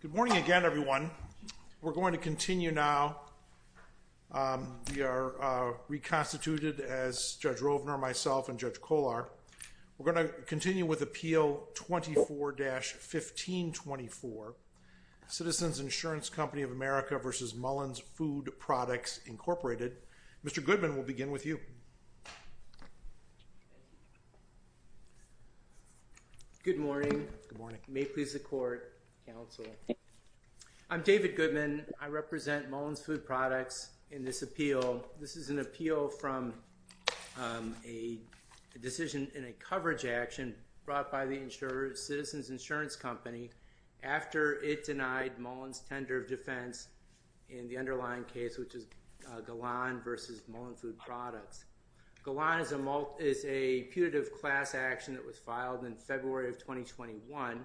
Good morning again, everyone. We're going to continue now. We are reconstituted as Judge Rovner, myself, and Judge Kollar. We're going to continue with Appeal 24-1524, Citizens Insurance Company of America v. Mullins Food Products, Incorporated. Mr. Goodman will begin with you. Good morning. May it please the Court. I'm David Goodman. I represent Mullins Food Products in this appeal. This is an appeal from a decision in a coverage action brought by the Citizens Insurance Company after it denied Mullins' tender of defense in the underlying case, which is Galan v. Mullins Food Products. Galan is a putative class action that was filed in February of 2021,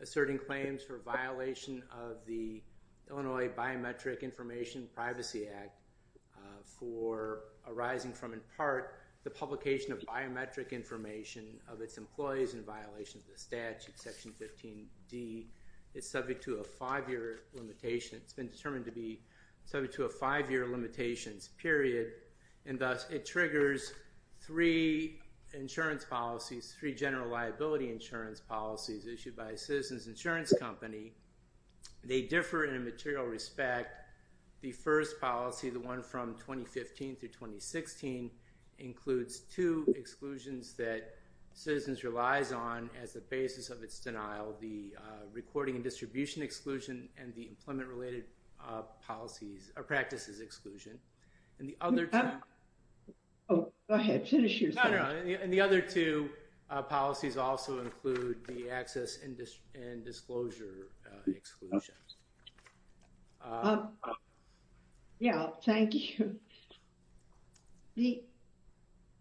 asserting claims for violation of the Illinois Biometric Information Privacy Act for arising from, in part, the publication of biometric information of its employees in violation of the statute, Section 15D. It's subject to a five-year limitation. It's been determined to be subject to a five-year limitations period, and thus it triggers three insurance policies, three general liability insurance policies issued by a Citizens Insurance Company. They differ in a material respect. The first policy, the one from 2015 through 2016, includes two exclusions that Citizens relies on as a basis of its denial, the recording and distribution exclusion and the employment-related policies or practices exclusion. And the other two... Oh, go ahead. Finish your sentence. No, no, no. And the other two policies also include the access and disclosure exclusions. Yeah, thank you. The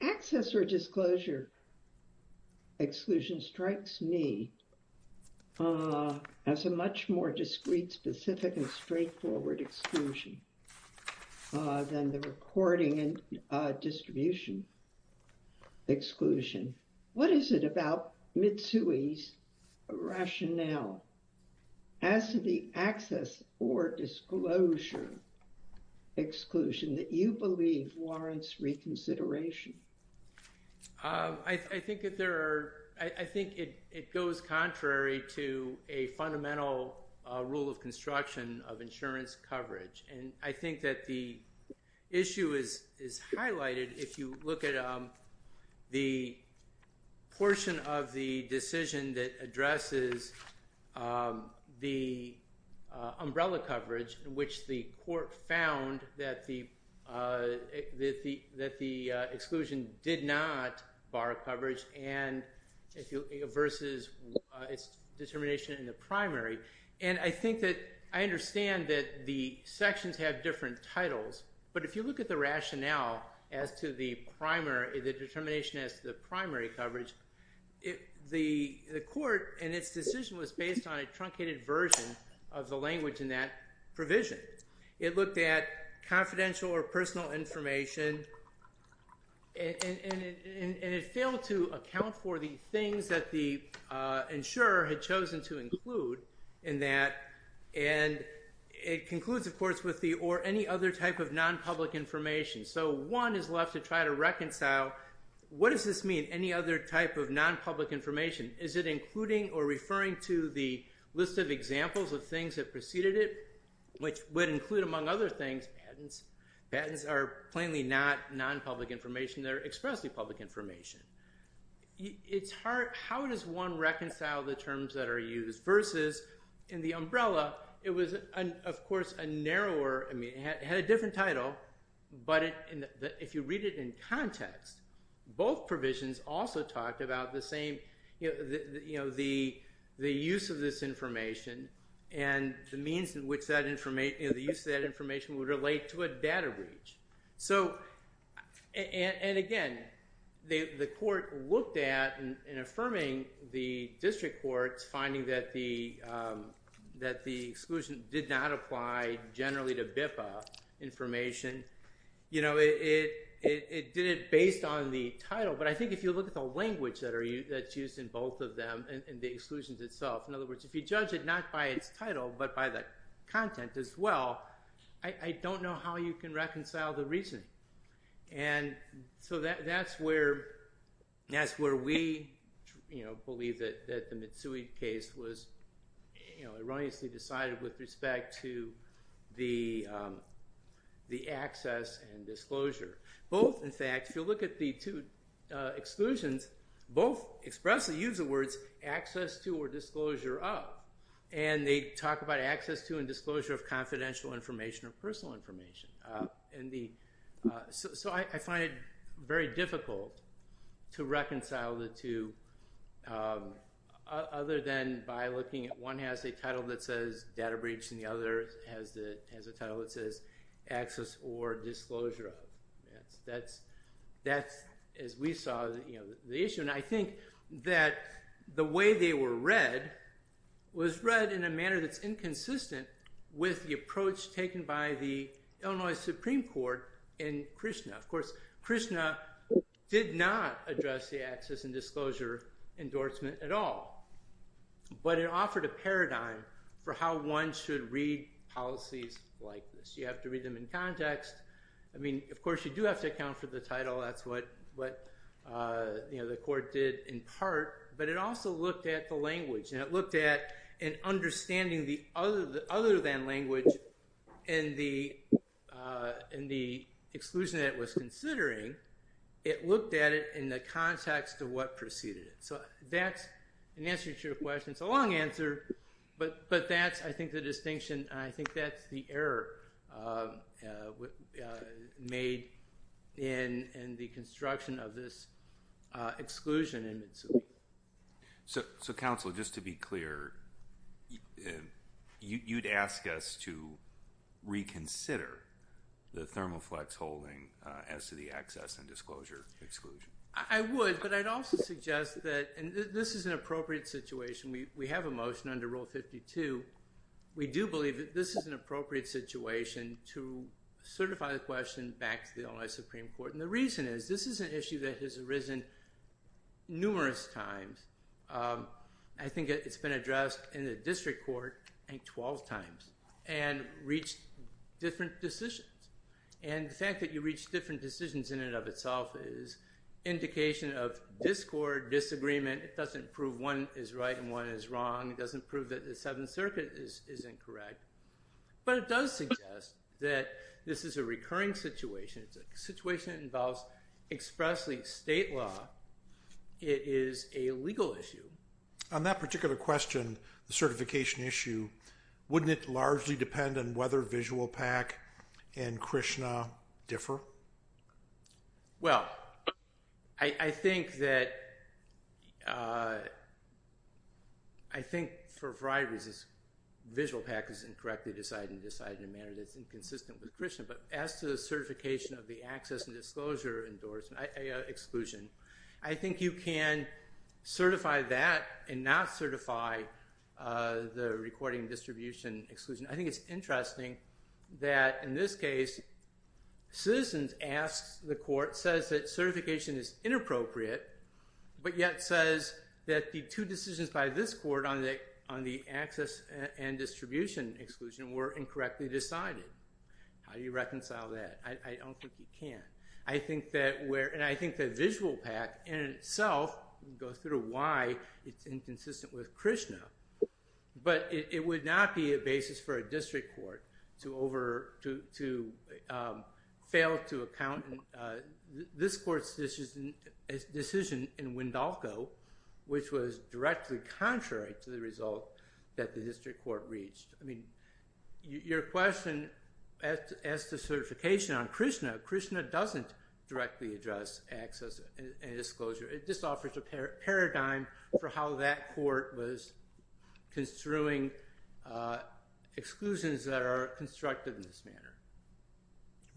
access or disclosure exclusion strikes me as a much more discreet, specific, and straightforward exclusion than the recording and distribution exclusion. What is it about Mitsui's rationale as to the access or disclosure exclusion that you believe warrants reconsideration? I think that there are... I think it goes contrary to a fundamental rule of construction of insurance coverage. And I think that the issue is highlighted if you look at the portion of the decision that addresses the umbrella coverage in which the court found that the exclusion did not bar coverage versus its determination in the primary. And I think that I understand that the sections have different titles, but if you look at the rationale as to the determination as to the primary coverage, the court and its decision was based on a truncated version of the language in that provision. It looked at confidential or personal information and it failed to account for the things that the insurer had chosen to include in that. And it concludes, of course, with the or any other type of non-public information. So one is left to try to reconcile, what does this mean, any other type of non-public information? Is it including or referring to the list of examples of things that preceded it, which would include, among other things, patents? Patents are plainly not non-public information. They're expressly public information. How does one reconcile the terms that are used versus in the umbrella, it was, of course, a narrower, I mean, it had a different title, but if you read it in context, both provisions also talked about the use of this information and the means in which the use of that information would relate to a data breach. And again, the court looked at, in affirming the district courts, finding that the exclusion did not apply generally to BIPA information. It did it based on the title, but I think if you look at the language that's used in both of them and the exclusions itself, in other words, if you judge it not by its title, but by the content as well, I don't know how you can reconcile the reason. And so that's where we believe that the Mitsui case was erroneously decided with respect to the access and disclosure. Both, in fact, if you look at the two exclusions, both expressly use the words access to or disclosure of, and they talk about access to and disclosure of confidential information or personal information. So I find it very difficult to reconcile the two other than by looking at one has a title that says data breach and the other has a title that says access or disclosure of. That's, as we saw, the issue. And I think that the way they were read was read in a manner that's inconsistent with the approach taken by the Illinois Supreme Court in Krishna. Of course, Krishna did not address the access and disclosure endorsement at all, but it offered a paradigm for how one should read policies like this. You have to read them in context. I mean, of course, you do have to account for the title. That's what the court did in part, but it also looked at the language, and it looked at an understanding the other than language in the exclusion that it was considering. It looked at it in the context of what preceded it. So that's an answer to your question. It's a long answer, but that's, I think, the distinction. I think that's the error made in the construction of this exclusion. So, Council, just to be clear, you'd ask us to reconsider the Thermoflex holding as to the access and disclosure exclusion. I would, but I'd also suggest that, and this is an appropriate situation, we have a motion under Article 52. We do believe that this is an appropriate situation to certify the question back to the Illinois Supreme Court. And the reason is, this is an issue that has arisen numerous times. I think it's been addressed in the district court, I think, 12 times, and reached different decisions. And the fact that you reach different decisions in and of itself is indication of discord, disagreement. It doesn't prove one is right and one is wrong. It doesn't prove that the Seventh Circuit is incorrect. But it does suggest that this is a recurring situation. It's a situation that involves expressly state law. It is a legal issue. On that particular question, the certification issue, wouldn't it largely depend on whether for a variety of reasons, visual pack is incorrectly decided and decided in a manner that's inconsistent with Christian. But as to the certification of the access and disclosure exclusion, I think you can certify that and not certify the recording distribution exclusion. I think it's interesting that, in this case, Citizens asks the court, says that certification is inappropriate, but yet says that the two decisions by this court on the access and distribution exclusion were incorrectly decided. How do you reconcile that? I don't think you can. I think that where, and I think that visual pack in itself goes through why it's inconsistent with Krishna. But it would not be a basis for a district court to over, to fail to account this court's decision in Wendalco, which was directly contrary to the result that the district court reached. I mean, your question as to certification on Krishna, Krishna doesn't directly address access and disclosure. It just offers a paradigm for how that court was construing exclusions that are constructed in this manner.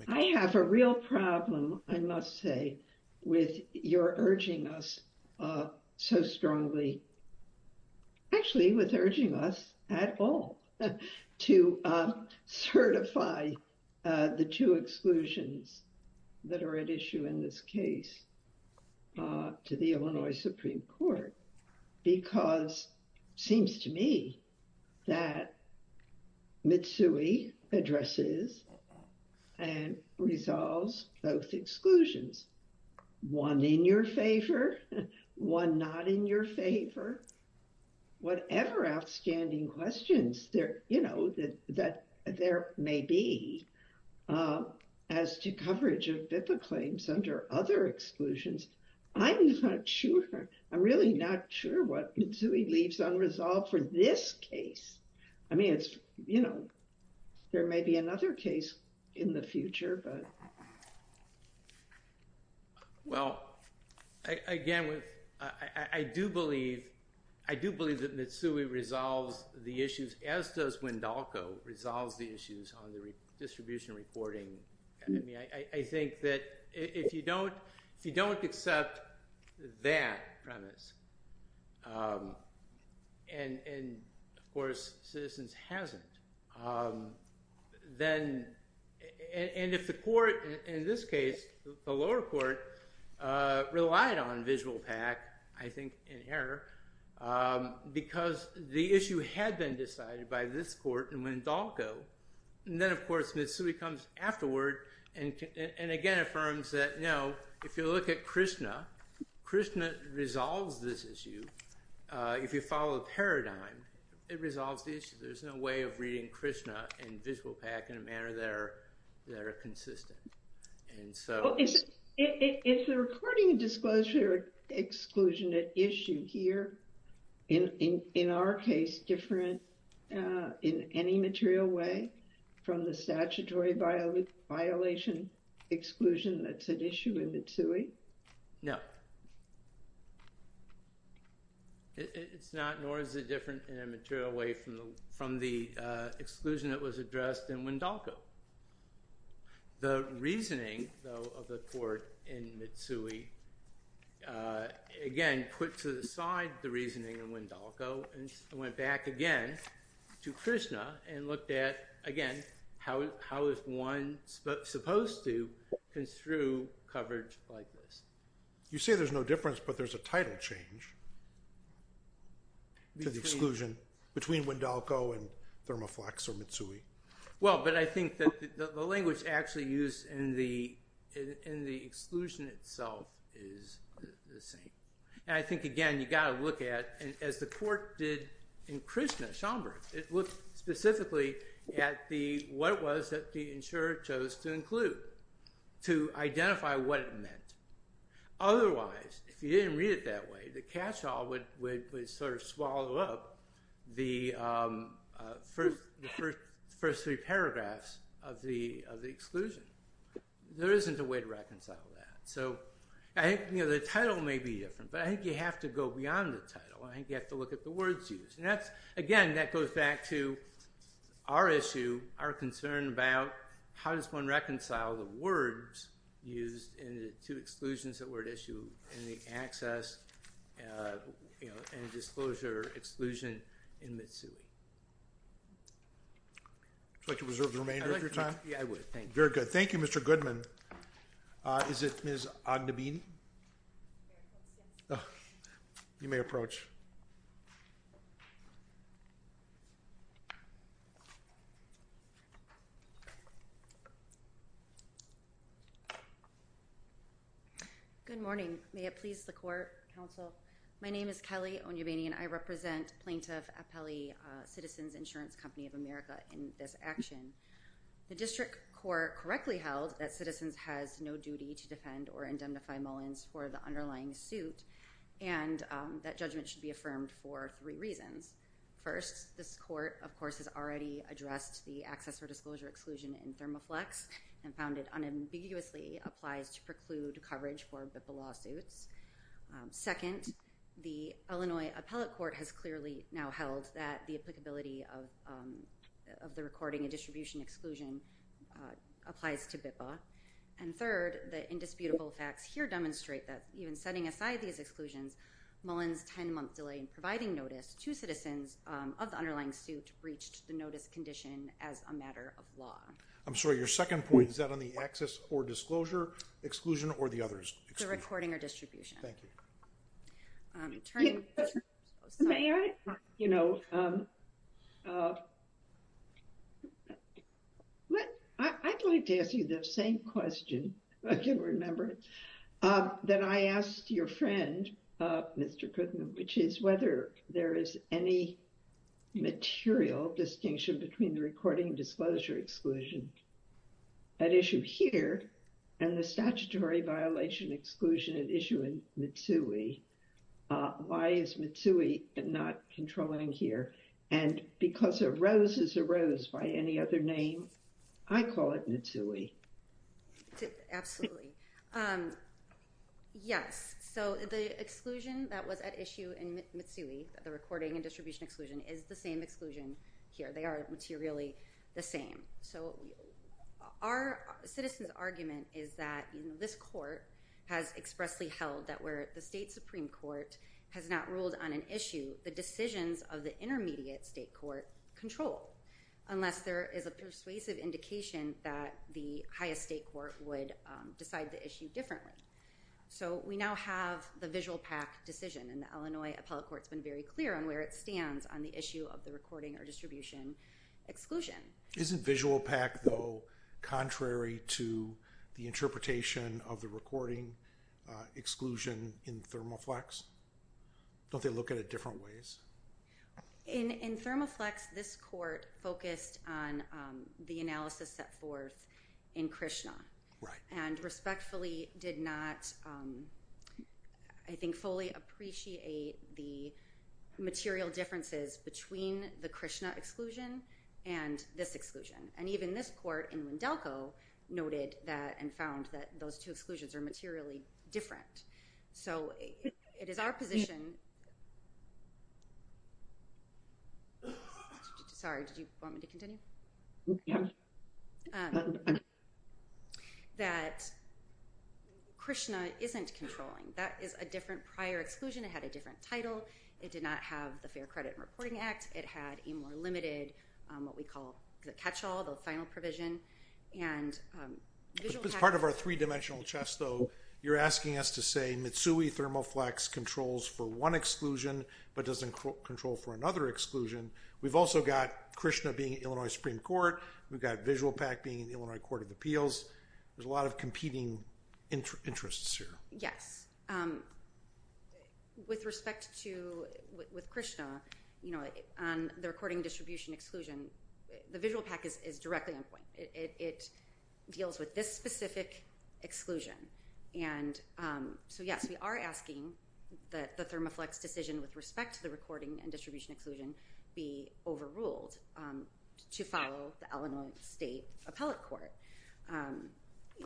I have a real problem, I must say, with your urging us so strongly, actually with urging us at all, to certify the two exclusions that are at issue in this case to the Illinois Supreme Court, because it seems to me that Mitsui addresses and resolves both exclusions, one in your favor, one not in your favor. Whatever outstanding questions there, that there may be as to coverage of BIPA claims under other exclusions, I'm not sure. I'm really not sure what Mitsui leaves unresolved for this case. I mean, it's, there may be another case in the future, but. Well, again, I do believe that Mitsui resolves the issues as does Mendolco resolves the issues on the distribution reporting. I mean, I think that if you don't, if you don't accept that premise, and of course citizens hasn't, then, and if the court in this case, the lower court relied on visual PAC, I think in error, because the issue had been decided by this court and Mendolco. And then of course, Mitsui comes afterward and again, affirms that, no, if you look at Krishna, Krishna resolves this issue. If you follow the paradigm, it resolves the issue. There's no way of reading Krishna and visual PAC in a manner that are, that are consistent. And so. Well, is the reporting disclosure exclusion at issue here in, in, in our case, different in any material way from the statutory violation exclusion that's at issue in Mitsui? No. It's not, nor is it different in a material way from the, from the exclusion that was addressed in Mendolco. The reasoning though of the court in Mitsui, again, put to the side the reasoning in Mendolco and went back again to Krishna and looked at, again, how, how is one supposed to construe coverage like this? You say there's no difference, but there's a title change to the exclusion between Mendolco and Thermoflex or Mitsui. Well, but I think that the language actually used in the, in the exclusion itself is the same. And I think, again, you got to look at, and as the court did in Krishna, Schomburg, it looked specifically at the, what it was that the insurer chose to include, to identify what it meant. Otherwise, if you didn't read it that way, the catch-all would, would, would sort of swallow up the first, the first three paragraphs of the, of the exclusion. There isn't a way to reconcile that. So I think, you know, the title may be different, but I think you have to go beyond the title. I think you have to look at the words used. And that's, again, that goes back to our issue, our concern about how does one reconcile the words used in the two exclusions that were at issue in the access, you know, and disclosure exclusion in Mitsui. Would you like to reserve the remainder of your time? Yeah, I would. Thank you. Very good. Thank you, Mr. Goodman. Is it Ms. Ognebini? You may approach. Good morning. May it please the court, counsel. My name is Kelly Ognebini and I represent plaintiff Apelli Citizens Insurance Company of America in this action. The district court correctly held that citizens has no duty to defend or indemnify Mullins for the underlying suit, and that judgment should be affirmed for three reasons. First, this court, of course, has already addressed the access or disclosure exclusion in Thermaflex and found it unambiguously applies to preclude coverage for BIPPA lawsuits. Second, the Illinois appellate court has clearly now held that the applicability of the recording and distribution exclusion applies to BIPPA. And third, the indisputable facts here demonstrate that even setting aside these exclusions, Mullins' 10-month delay in providing notice to citizens of the underlying suit breached the notice condition as a matter of law. I'm sorry, your second point, is that on the access or disclosure exclusion or the others? The recording or distribution. Thank you. I'd like to ask you the same question, if I can remember, that I asked your friend, Mr. Kuttner, which is whether there is any material distinction between the recording disclosure exclusion at issue here and the statutory violation exclusion at issue in Mtsui. Why is Mtsui not controlling here? And because a rose is a rose by any other name, I call it Mtsui. Absolutely. Yes. So the exclusion that was at issue in Mtsui, the recording and distribution exclusion, is the same exclusion here. They are materially the same. So our citizens' argument is that this court has expressly held that where the state Supreme Court has not ruled on an issue, the decisions of the intermediate state court control, unless there is a persuasive indication that the highest state court would decide the issue differently. So we now have the visual PAC decision. And the Illinois appellate court's been very clear on where it stands on the issue of the recording or distribution exclusion. Isn't visual PAC, though, contrary to the interpretation of the recording exclusion in Thermaflex? Don't they look at it different ways? In Thermaflex, this court focused on the analysis set forth in Krishna. Right. And respectfully did not, I think, fully appreciate the material differences between the Krishna exclusion and this exclusion. And even this court in Wendelco noted that and found that those two exclusions are materially different. So it is our position. Sorry, did you want me to continue? Yes. That Krishna isn't controlling. That is a different prior exclusion. It had a different title. It did not have the Fair Credit and Reporting Act. It had a more limited, what we call, the catch-all, the final provision. And visual PAC- As part of our three-dimensional chess, though, you're asking us to say Mitsui Thermaflex controls for one exclusion, but doesn't control for another exclusion. We've also got Krishna being in Illinois Supreme Court. We've got visual PAC being in the Illinois Court of Appeals. There's a lot of competing interests here. Yes. With respect to Krishna, on the recording distribution exclusion, the visual PAC is directly on point. It deals with this specific exclusion. And so, yes, we are asking that the Thermaflex decision with respect to the recording and distribution exclusion be overruled to follow the Illinois State Appellate Court.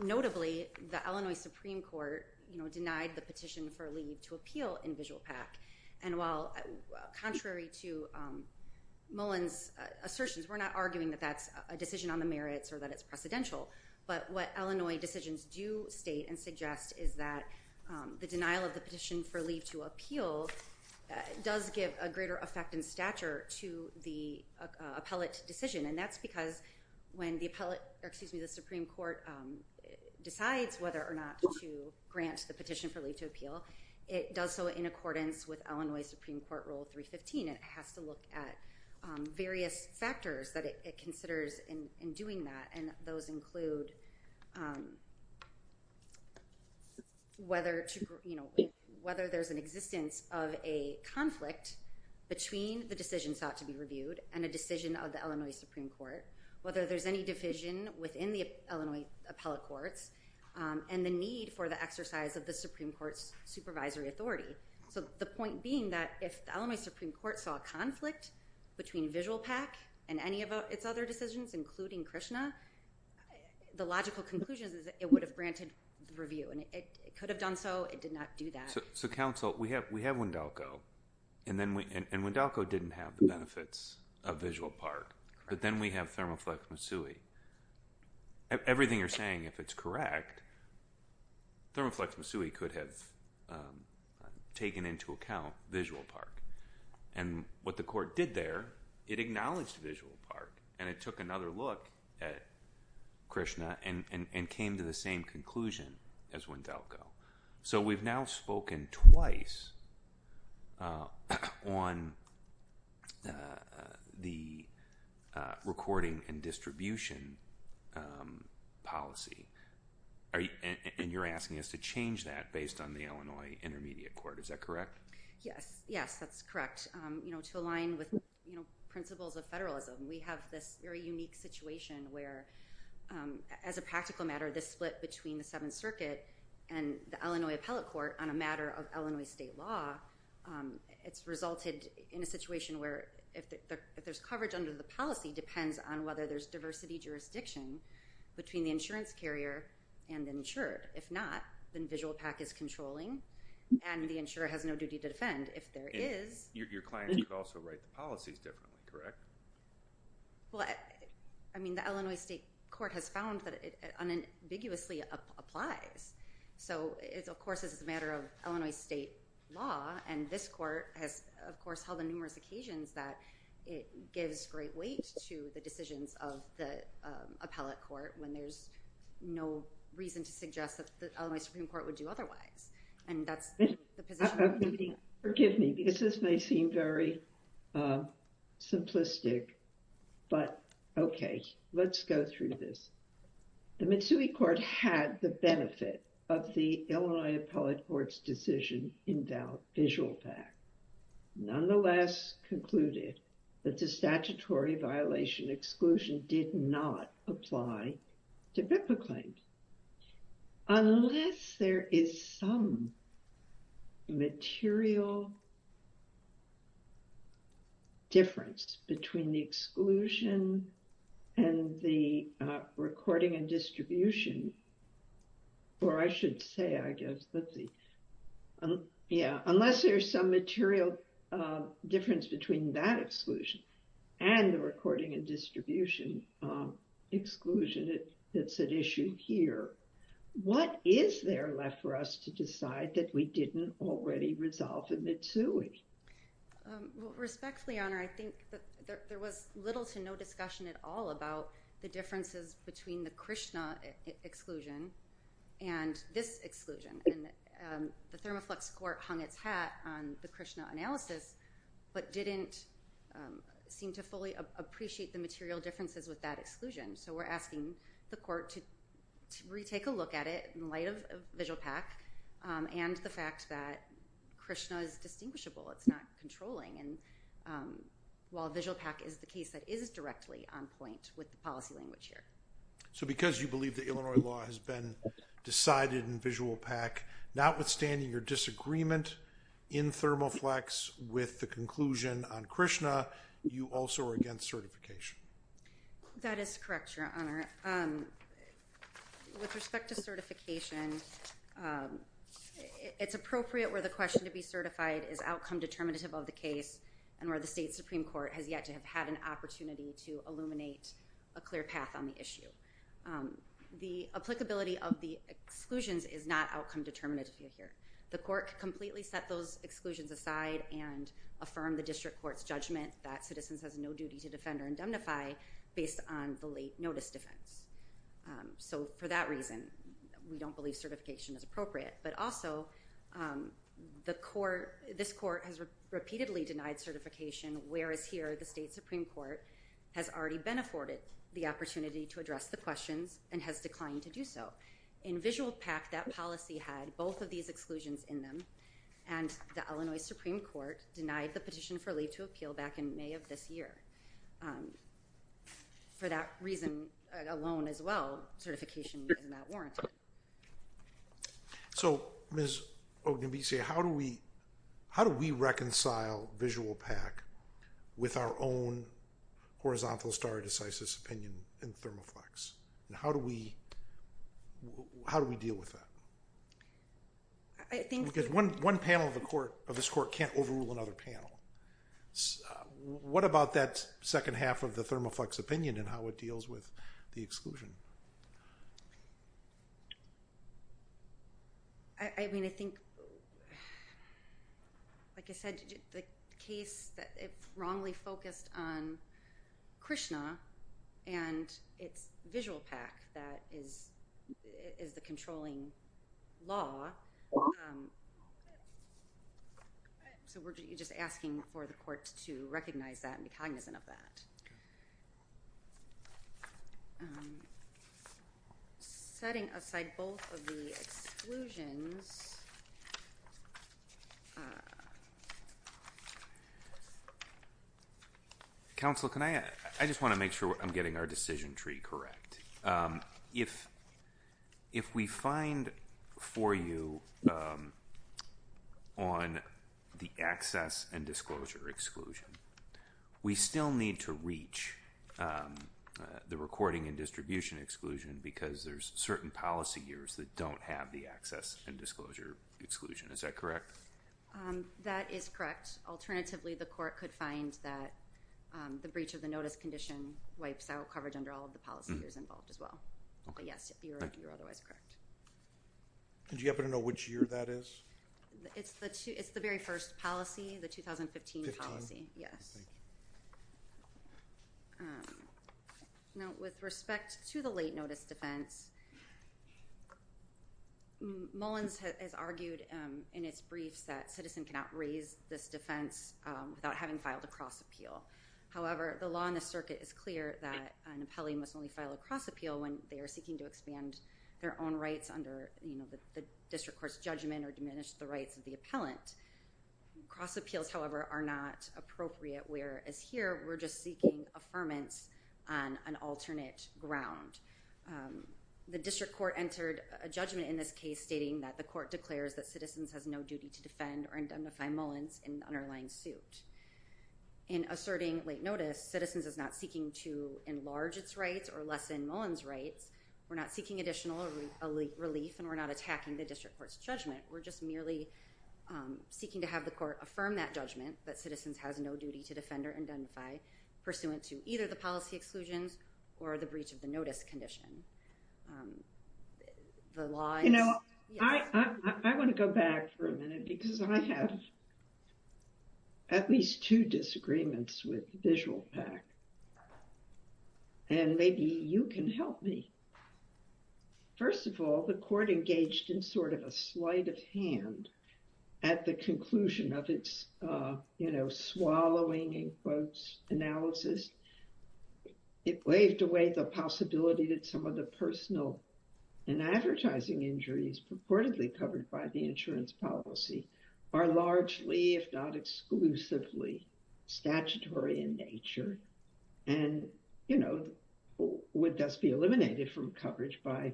Notably, the Illinois Supreme Court denied the petition for leave to appeal in visual PAC. And while contrary to Mullen's assertions, we're not arguing that that's a decision on the merits or that it's precedential, but what Illinois decisions do state and suggest is that the denial of the petition for leave to appeal does give a greater effect and stature to the appellate decision. And that's because when the Supreme Court decides whether or not to grant the petition for leave to appeal, it does so in accordance with Illinois Supreme Court Rule 315. It has to look at various factors that it considers in doing that, and those include whether there's an existence of a conflict between the decision sought to be reviewed and a decision of the Illinois Supreme Court, whether there's any division within the Illinois Appellate Courts, and the need for the exercise of the Supreme Court's supervisory authority. So the point being that if the Illinois Supreme Court saw a conflict between visual PAC and any of its other decisions, including Krishna, the logical conclusion is that it would have granted the review, and it could have done so. It did not do that. So counsel, we have Wendelco, and Wendelco didn't have the benefits of visual PAC, but then we have Thermoflex-Misui. Everything you're saying, if it's correct, Thermoflex-Misui could have taken into account visual PAC. And what the court did there, it acknowledged visual PAC, and it took another look at Krishna and came to the same conclusion as Wendelco. So we've now spoken twice on the recording and distribution policy, and you're asking us to change that based on the Illinois Intermediate Court. Is that correct? Yes. Yes, that's correct. To align with principles of federalism, we have this very unique situation where, as a practical matter, this split between the Seventh Circuit and the Illinois Appellate Court on a matter of Illinois state law, it's resulted in a situation where if there's coverage under the policy, depends on whether there's diversity jurisdiction between the insurance carrier and the insured. If not, then visual PAC is controlling, and the insurer has no duty to defend. If there is... Your client could also write the policies differently, correct? Well, I mean, the Illinois state court has found that it unambiguously applies. So it's, of course, it's a matter of Illinois state law, and this court has, of course, held on numerous occasions that it gives great weight to the decisions of the appellate court when there's no reason to suggest that the Illinois Supreme Court would do otherwise, and that's... Forgive me, because this may seem very simplistic, but okay, let's go through this. The Mitsui Court had the benefit of the Illinois Appellate Court's decision in that visual PAC, nonetheless concluded that the statutory violation exclusion did not apply to BIPPA claims. Unless there is some material difference between the exclusion and the recording and distribution, or I should say, I guess, let's see. Yeah, unless there's some material difference between that exclusion and the recording and distribution exclusion that's at issue here, what is there left for us to decide that we didn't already resolve in Mitsui? Well, respectfully, Honor, I think that there was little to no discussion at all about the differences between the Krishna exclusion and this exclusion, and the Thermaflux Court hung its hat on the Krishna analysis, but didn't seem to fully appreciate the material differences with that exclusion, so we're asking the court to retake a look at it in light of visual PAC, and the fact that Krishna is distinguishable, it's not controlling, and while visual PAC is the case that is directly on point with the policy language here. So because you believe the Illinois law has been decided in visual PAC, notwithstanding your disagreement in Thermaflux with the conclusion on Krishna, you also are against certification. That is correct, Your Honor. With respect to certification, it's appropriate where the question to be certified is outcome determinative of the case, and where the state Supreme Court has yet to have had an opportunity to illuminate a clear path on the issue. The applicability of the exclusions is not outcome determinative here. The court could completely set those exclusions aside and affirm the district court's judgment that citizens has no duty to defend or indemnify based on the late notice defense. So for that reason, we don't believe that certification is appropriate. But also, this court has repeatedly denied certification, whereas here the state Supreme Court has already been afforded the opportunity to address the questions and has declined to do so. In visual PAC, that policy had both of these exclusions in them, and the Illinois Supreme Court denied the petition for leave to appeal back in May of this year. For that reason alone as well, certification is not warranted. So Ms. Ognebisi, how do we reconcile visual PAC with our own horizontal stare decisis opinion in ThermoFlex? How do we deal with that? Because one panel of this court can't overrule another panel. What about that second half of the ThermoFlex opinion and how it deals with the exclusion? I mean, I think, like I said, the case wrongly focused on Krishna and it's visual PAC that is the controlling law. So we're just asking for the court to recognize that and be cognizant of that. Setting aside both of the exclusions. Counsel, can I, I just want to make sure I'm getting our decision tree correct. If we find for you on the access and disclosure exclusion, we still need to reach the recording and distribution exclusion because there's certain policy years that don't have the access and disclosure exclusion. Is that correct? That is correct. Alternatively, the court could find that the breach of the notice condition wipes out coverage under all of the policy years involved as well. But yes, you're otherwise correct. Do you happen to know which year that is? It's the very first policy, the 2015 policy. Yes. Now, with respect to the late notice defense, Mullins has argued in its briefs that citizens cannot raise this defense without having filed a cross appeal. However, the law in the circuit is clear that an appellee must only file a cross appeal when they are seeking to expand their own rights under the district court's judgment or diminish the rights of the appellant. Cross appeals, however, are not appropriate, whereas here we're just seeking affirmance on an alternate ground. The district court entered a judgment in this case stating that the court declares that citizens has no duty to defend or indemnify Mullins in underlying suit. In asserting late notice, citizens is not seeking to enlarge its rights or lessen Mullins' rights. We're not seeking additional relief and we're not attacking the district court's judgment. We're just merely seeking to have the court affirm that judgment that citizens has no duty to defend or indemnify pursuant to either the policy exclusions or the breach of the notice condition. The law... You know, I want to go back for a minute because I have at least two disagreements with VisualPAC and maybe you can help me. First of all, the court engaged in sort of a sleight of hand at the conclusion of its, you know, swallowing in quotes analysis. It waved away the possibility that some of the personal and advertising injuries purportedly covered by the insurance policy are largely, if not exclusively, statutory in nature and, you know, would thus be eliminated from coverage by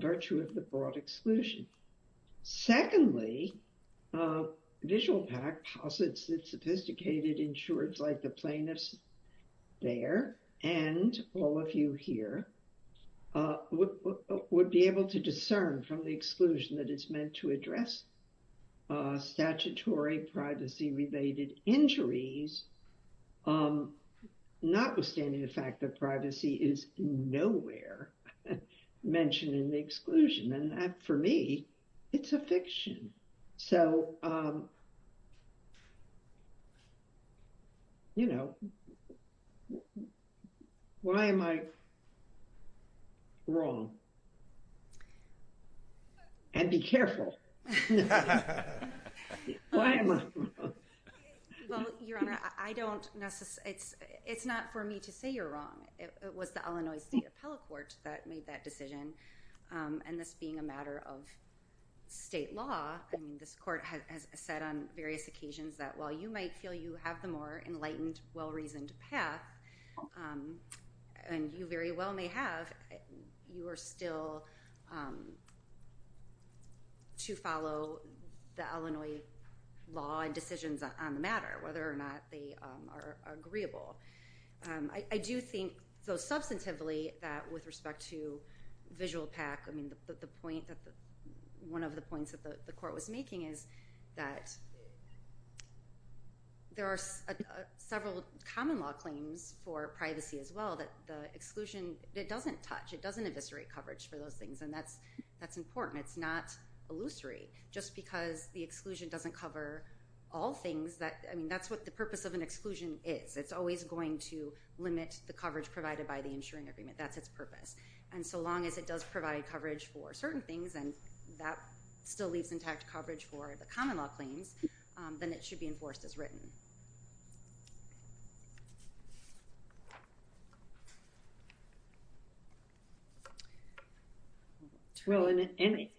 virtue of the broad exclusion. Secondly, VisualPAC posits that sophisticated insurers like the plaintiffs there and all of you here would be able to discern from the exclusion that it's meant to address statutory privacy-related injuries, notwithstanding the fact that privacy is nowhere mentioned in the exclusion and that, for me, it's a fiction. So, um, you know, why am I wrong? And be careful. Well, Your Honor, I don't necessarily... It's not for me to say you're wrong. It was the Illinois State Appellate Court that made that decision and this being a matter of state law, I mean, court has said on various occasions that while you might feel you have the more enlightened, well-reasoned path and you very well may have, you are still to follow the Illinois law and decisions on the matter, whether or not they are agreeable. I do think, though substantively, that with respect to VisualPAC, I mean, the point that one of the points that the court was making is that there are several common law claims for privacy as well that the exclusion, it doesn't touch, it doesn't eviscerate coverage for those things and that's important. It's not illusory. Just because the exclusion doesn't cover all things that, I mean, that's what the purpose of an exclusion is. It's always going to limit the coverage provided by the insuring agreement. That's its purpose and so long as it does provide coverage for certain things and that still leaves intact coverage for the common law claims, then it should be enforced as written. Well, in any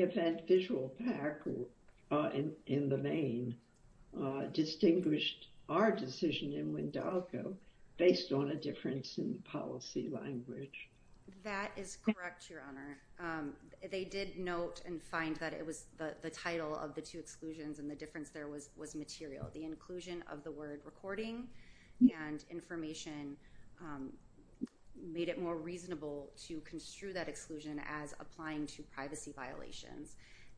event, VisualPAC in the main distinguished our decision in Wendalco based on a difference in policy language. That is correct, Your Honor. They did note and find that it was the title of the two exclusions and the difference there was material. The inclusion of the word recording and information made it more reasonable to construe that exclusion as applying to privacy violations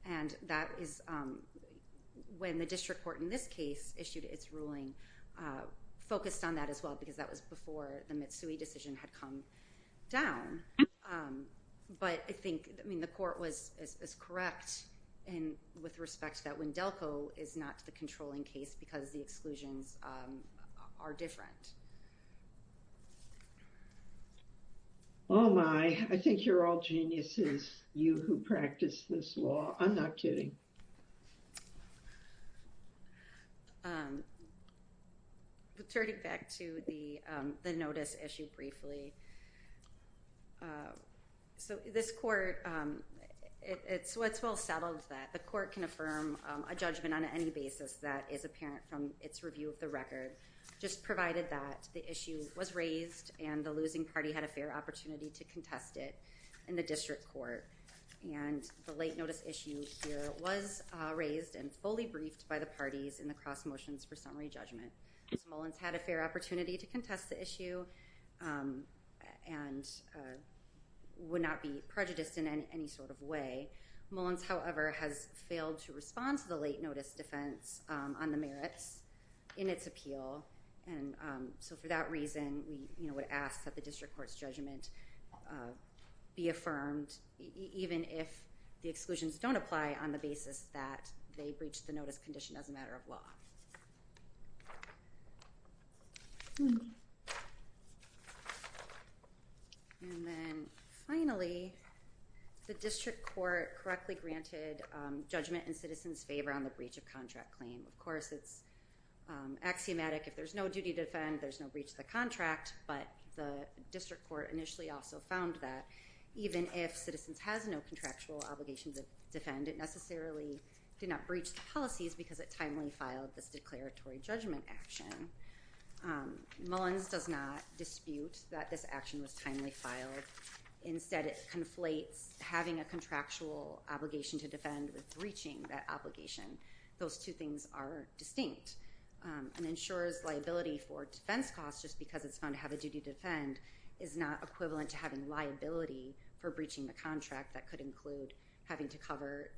and that is when the district court in this case issued its ruling, focused on that as well because that was before the Mitsui decision had come down. But I think, I mean, the court was as correct and with respect that Wendalco is not the controlling case because the exclusions are different. Oh my, I think you're all geniuses, you who practice this law. I'm not kidding. Turning back to the the notice issued briefly. So this court, it's what's well settled that the court can affirm a judgment on any basis that is apparent from its review of the record just provided that the issue was raised and the losing party had a fair opportunity to contest it in the district court and the late notice issue was raised and fully briefed by the parties in the cross motions for summary judgment. Mullins had a fair opportunity to contest the issue and would not be prejudiced in any sort of way. Mullins, however, has failed to respond to the late notice defense on the merits in its appeal and so for that reason we would ask that the district court's judgment be affirmed even if the exclusions don't apply on the basis that they breach the notice condition as a matter of law. And then finally, the district court correctly granted judgment in citizens favor on the breach of contract claim. Of course it's axiomatic if there's no duty to defend there's no breach of the contract but the district court initially also found that even if citizens has no contractual obligation to defend it necessarily did not breach the policies because it timely filed this declaratory judgment action. Mullins does not dispute that this action was timely filed. Instead it conflates having a contractual obligation to defend with breaching that obligation. Those two things are distinct. An insurer's liability for defense costs just because it's found to have a duty to defend is not equivalent to having liability for breaching the contract that could include having to cover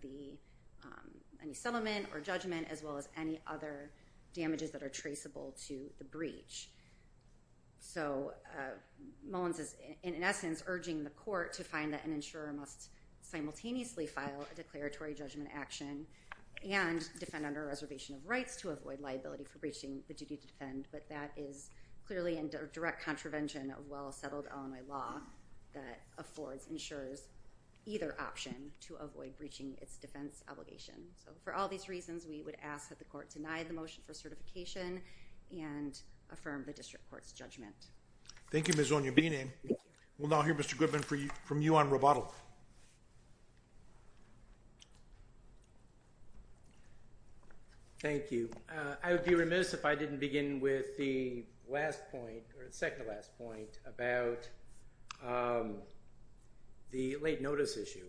any settlement or judgment as well as any other damages that are traceable to the breach. So Mullins is in essence urging the court to find that an insurer must simultaneously file a declaratory judgment action and defend under a reservation of rights to avoid liability for breaching the duty to defend but that is clearly direct contravention of well-settled LMI law that affords insurers either option to avoid breaching its defense obligation. So for all these reasons we would ask that the court deny the motion for certification and affirm the district court's judgment. Thank you Ms. O'Neill. We'll now hear Mr. Goodman from you on rebuttal. Thank you. I would be remiss if I didn't begin with the last point or the second last point about the late notice issue.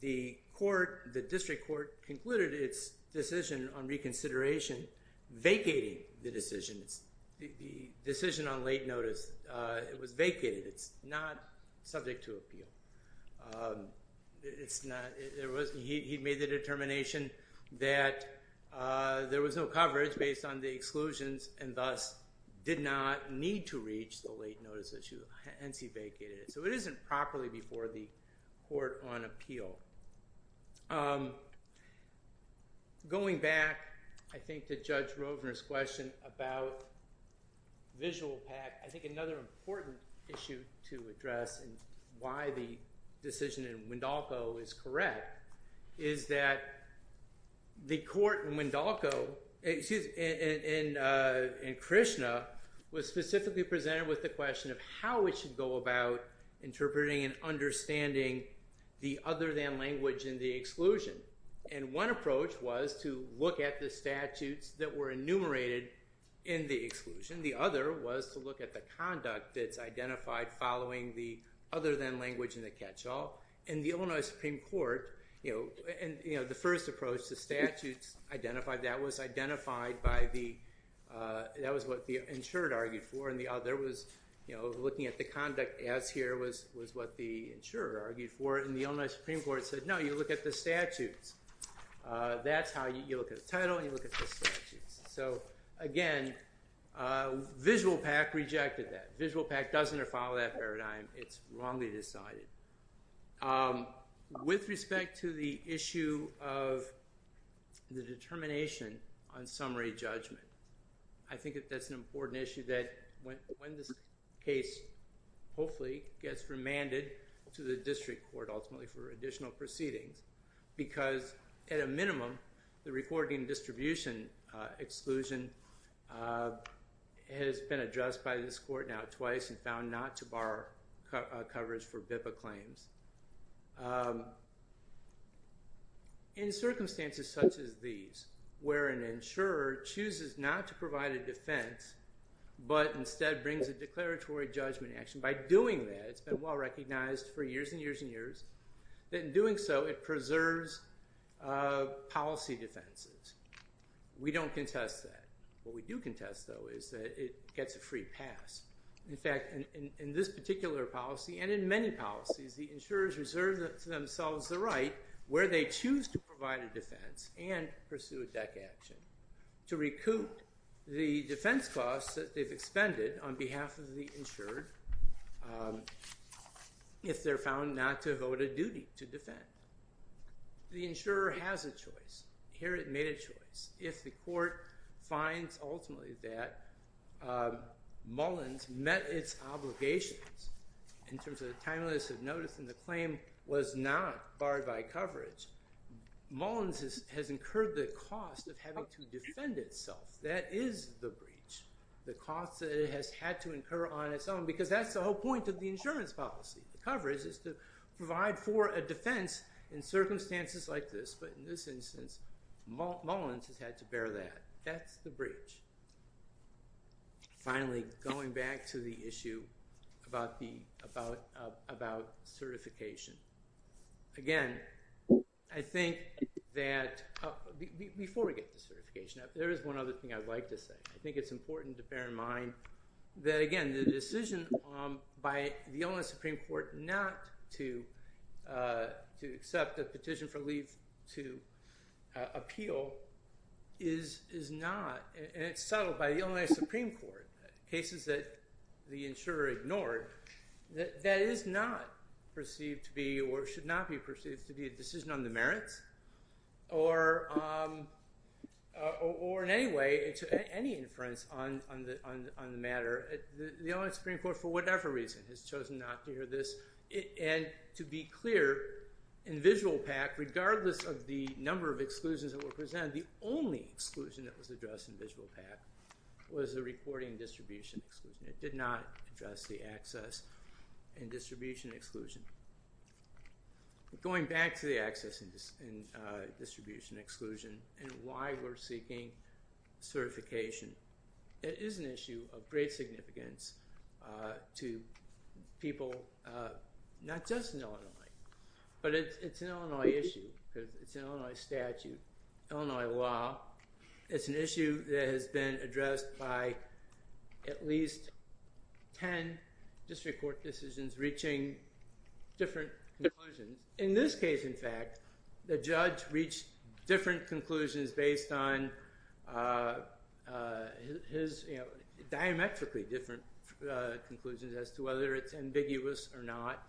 The court, the district court, concluded its decision on reconsideration vacating the decisions. The decision on late notice, it was vacated. It's not subject to appeal. It's not, there wasn't, he made the determination that there was no coverage based on the exclusions and thus did not need to reach the late notice issue and vacated it. So it isn't properly before the court on appeal. Going back I think to Judge Rovner's question about visual pack, I think another important issue to address and why the decision in Wendalco is correct is that the court in Wendalco, in Krishna, was specifically presented with the question of how it should go about interpreting and understanding the other than language in the exclusion. And one approach was to look at the statutes that were enumerated in the exclusion. The other was to look at the conduct that's identified following the other than language in the catch-all. And the Illinois Supreme Court, the first approach, the statutes identified that was identified by the, that was what the insured argued for and the other was looking at the conduct as here was what the insurer argued for. And the Illinois Supreme Court said, no, you look at the statutes. That's how you look at the title and you look at the statutes. So again, visual pack rejected that. Visual pack doesn't follow that paradigm. It's wrongly decided. With respect to the issue of the determination on summary judgment, I think that that's an important issue that when this case hopefully gets remanded to the district court ultimately for additional proceedings, because at a minimum, the reporting distribution exclusion has been addressed by this court now twice and found not to bar coverage for BIPA claims. In circumstances such as these, where an insurer chooses not to provide a defense, but instead brings a declaratory judgment action, by doing that, it's been well recognized for years and years and years that in doing so it preserves policy defenses. We don't contest that. What we do contest though is that it gets a free pass. In fact, in this particular policy and in many policies, the insurers reserve themselves the right where they choose to provide a defense and pursue a deck action to recoup the defense costs that they've expended on behalf of the insured if they're found not to have owed a duty to defend. The insurer has a choice. Here it made a choice. If the court finds ultimately that Mullins met its obligations in terms of the timeliness of notice and the claim was not barred by coverage, Mullins has incurred the cost of to defend itself. That is the breach. The cost that it has had to incur on its own because that's the whole point of the insurance policy. The coverage is to provide for a defense in circumstances like this, but in this instance, Mullins has had to bear that. That's the breach. Finally, going back to the issue about certification. Again, I think that before we get to certification, there is one other thing I'd like to say. I think it's important to bear in mind that again, the decision by the Illinois Supreme Court not to accept the petition for leave to appeal is not, and it's settled by the Illinois Supreme Court, cases that the insurer ignored, that is not perceived to be or should not be perceived to be a decision on the merits or in any way to any inference on the matter. The Illinois Supreme Court, for whatever reason, has chosen not to hear this. To be clear, in visual PAC, regardless of the number of exclusions that were presented, the only exclusion that was addressed in visual PAC was the reporting distribution exclusion. It did not address the access and distribution exclusion. Going back to the access and distribution exclusion and why we're seeking certification, it is an issue of great significance to people, not just in Illinois, but it's an Illinois issue because it's an Illinois statute, Illinois law. It's an issue that has been addressed by at least 10 district court decisions reaching different conclusions. In this case, in fact, the judge reached different conclusions based on his, you know, diametrically different conclusions as to whether it's ambiguous or not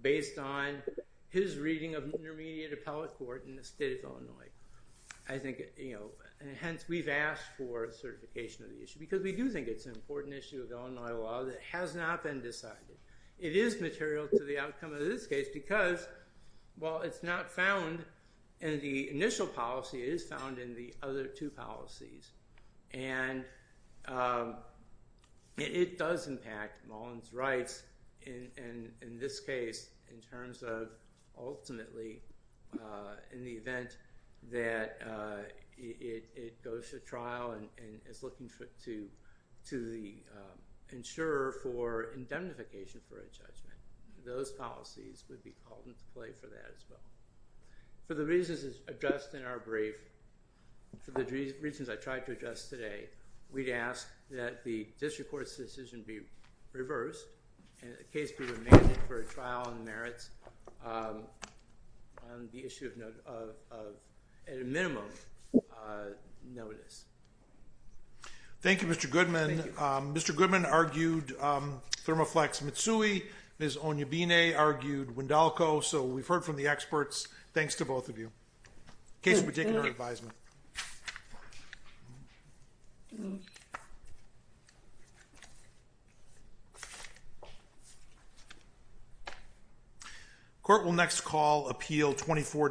based on his reading of intermediate appellate court in the state of Illinois. I think, you know, and hence we've asked for certification of the issue because we do think it's an important issue of Illinois law that has not been decided. It is material to the outcome of this case because while it's not found in the initial policy, it is found in the other two policies, and it does impact Mullin's rights in this case in terms of ultimately in the event that it goes to trial and is looking to the insurer for indemnification for a judgment. Those policies would be called into play for that judgment. For the reasons addressed in our brief, for the reasons I tried to address today, we'd ask that the district court's decision be reversed and the case be remanded for trial and merits on the issue of at a minimum notice. Thank you, Mr. Goodman. Mr. Goodman argued Thermoflex Mitsui. Ms. Onyebine argued Wendalco. So we've heard from the experts. Thanks to both of you. The case will be taken to our advisement. Court will next call appeal 24.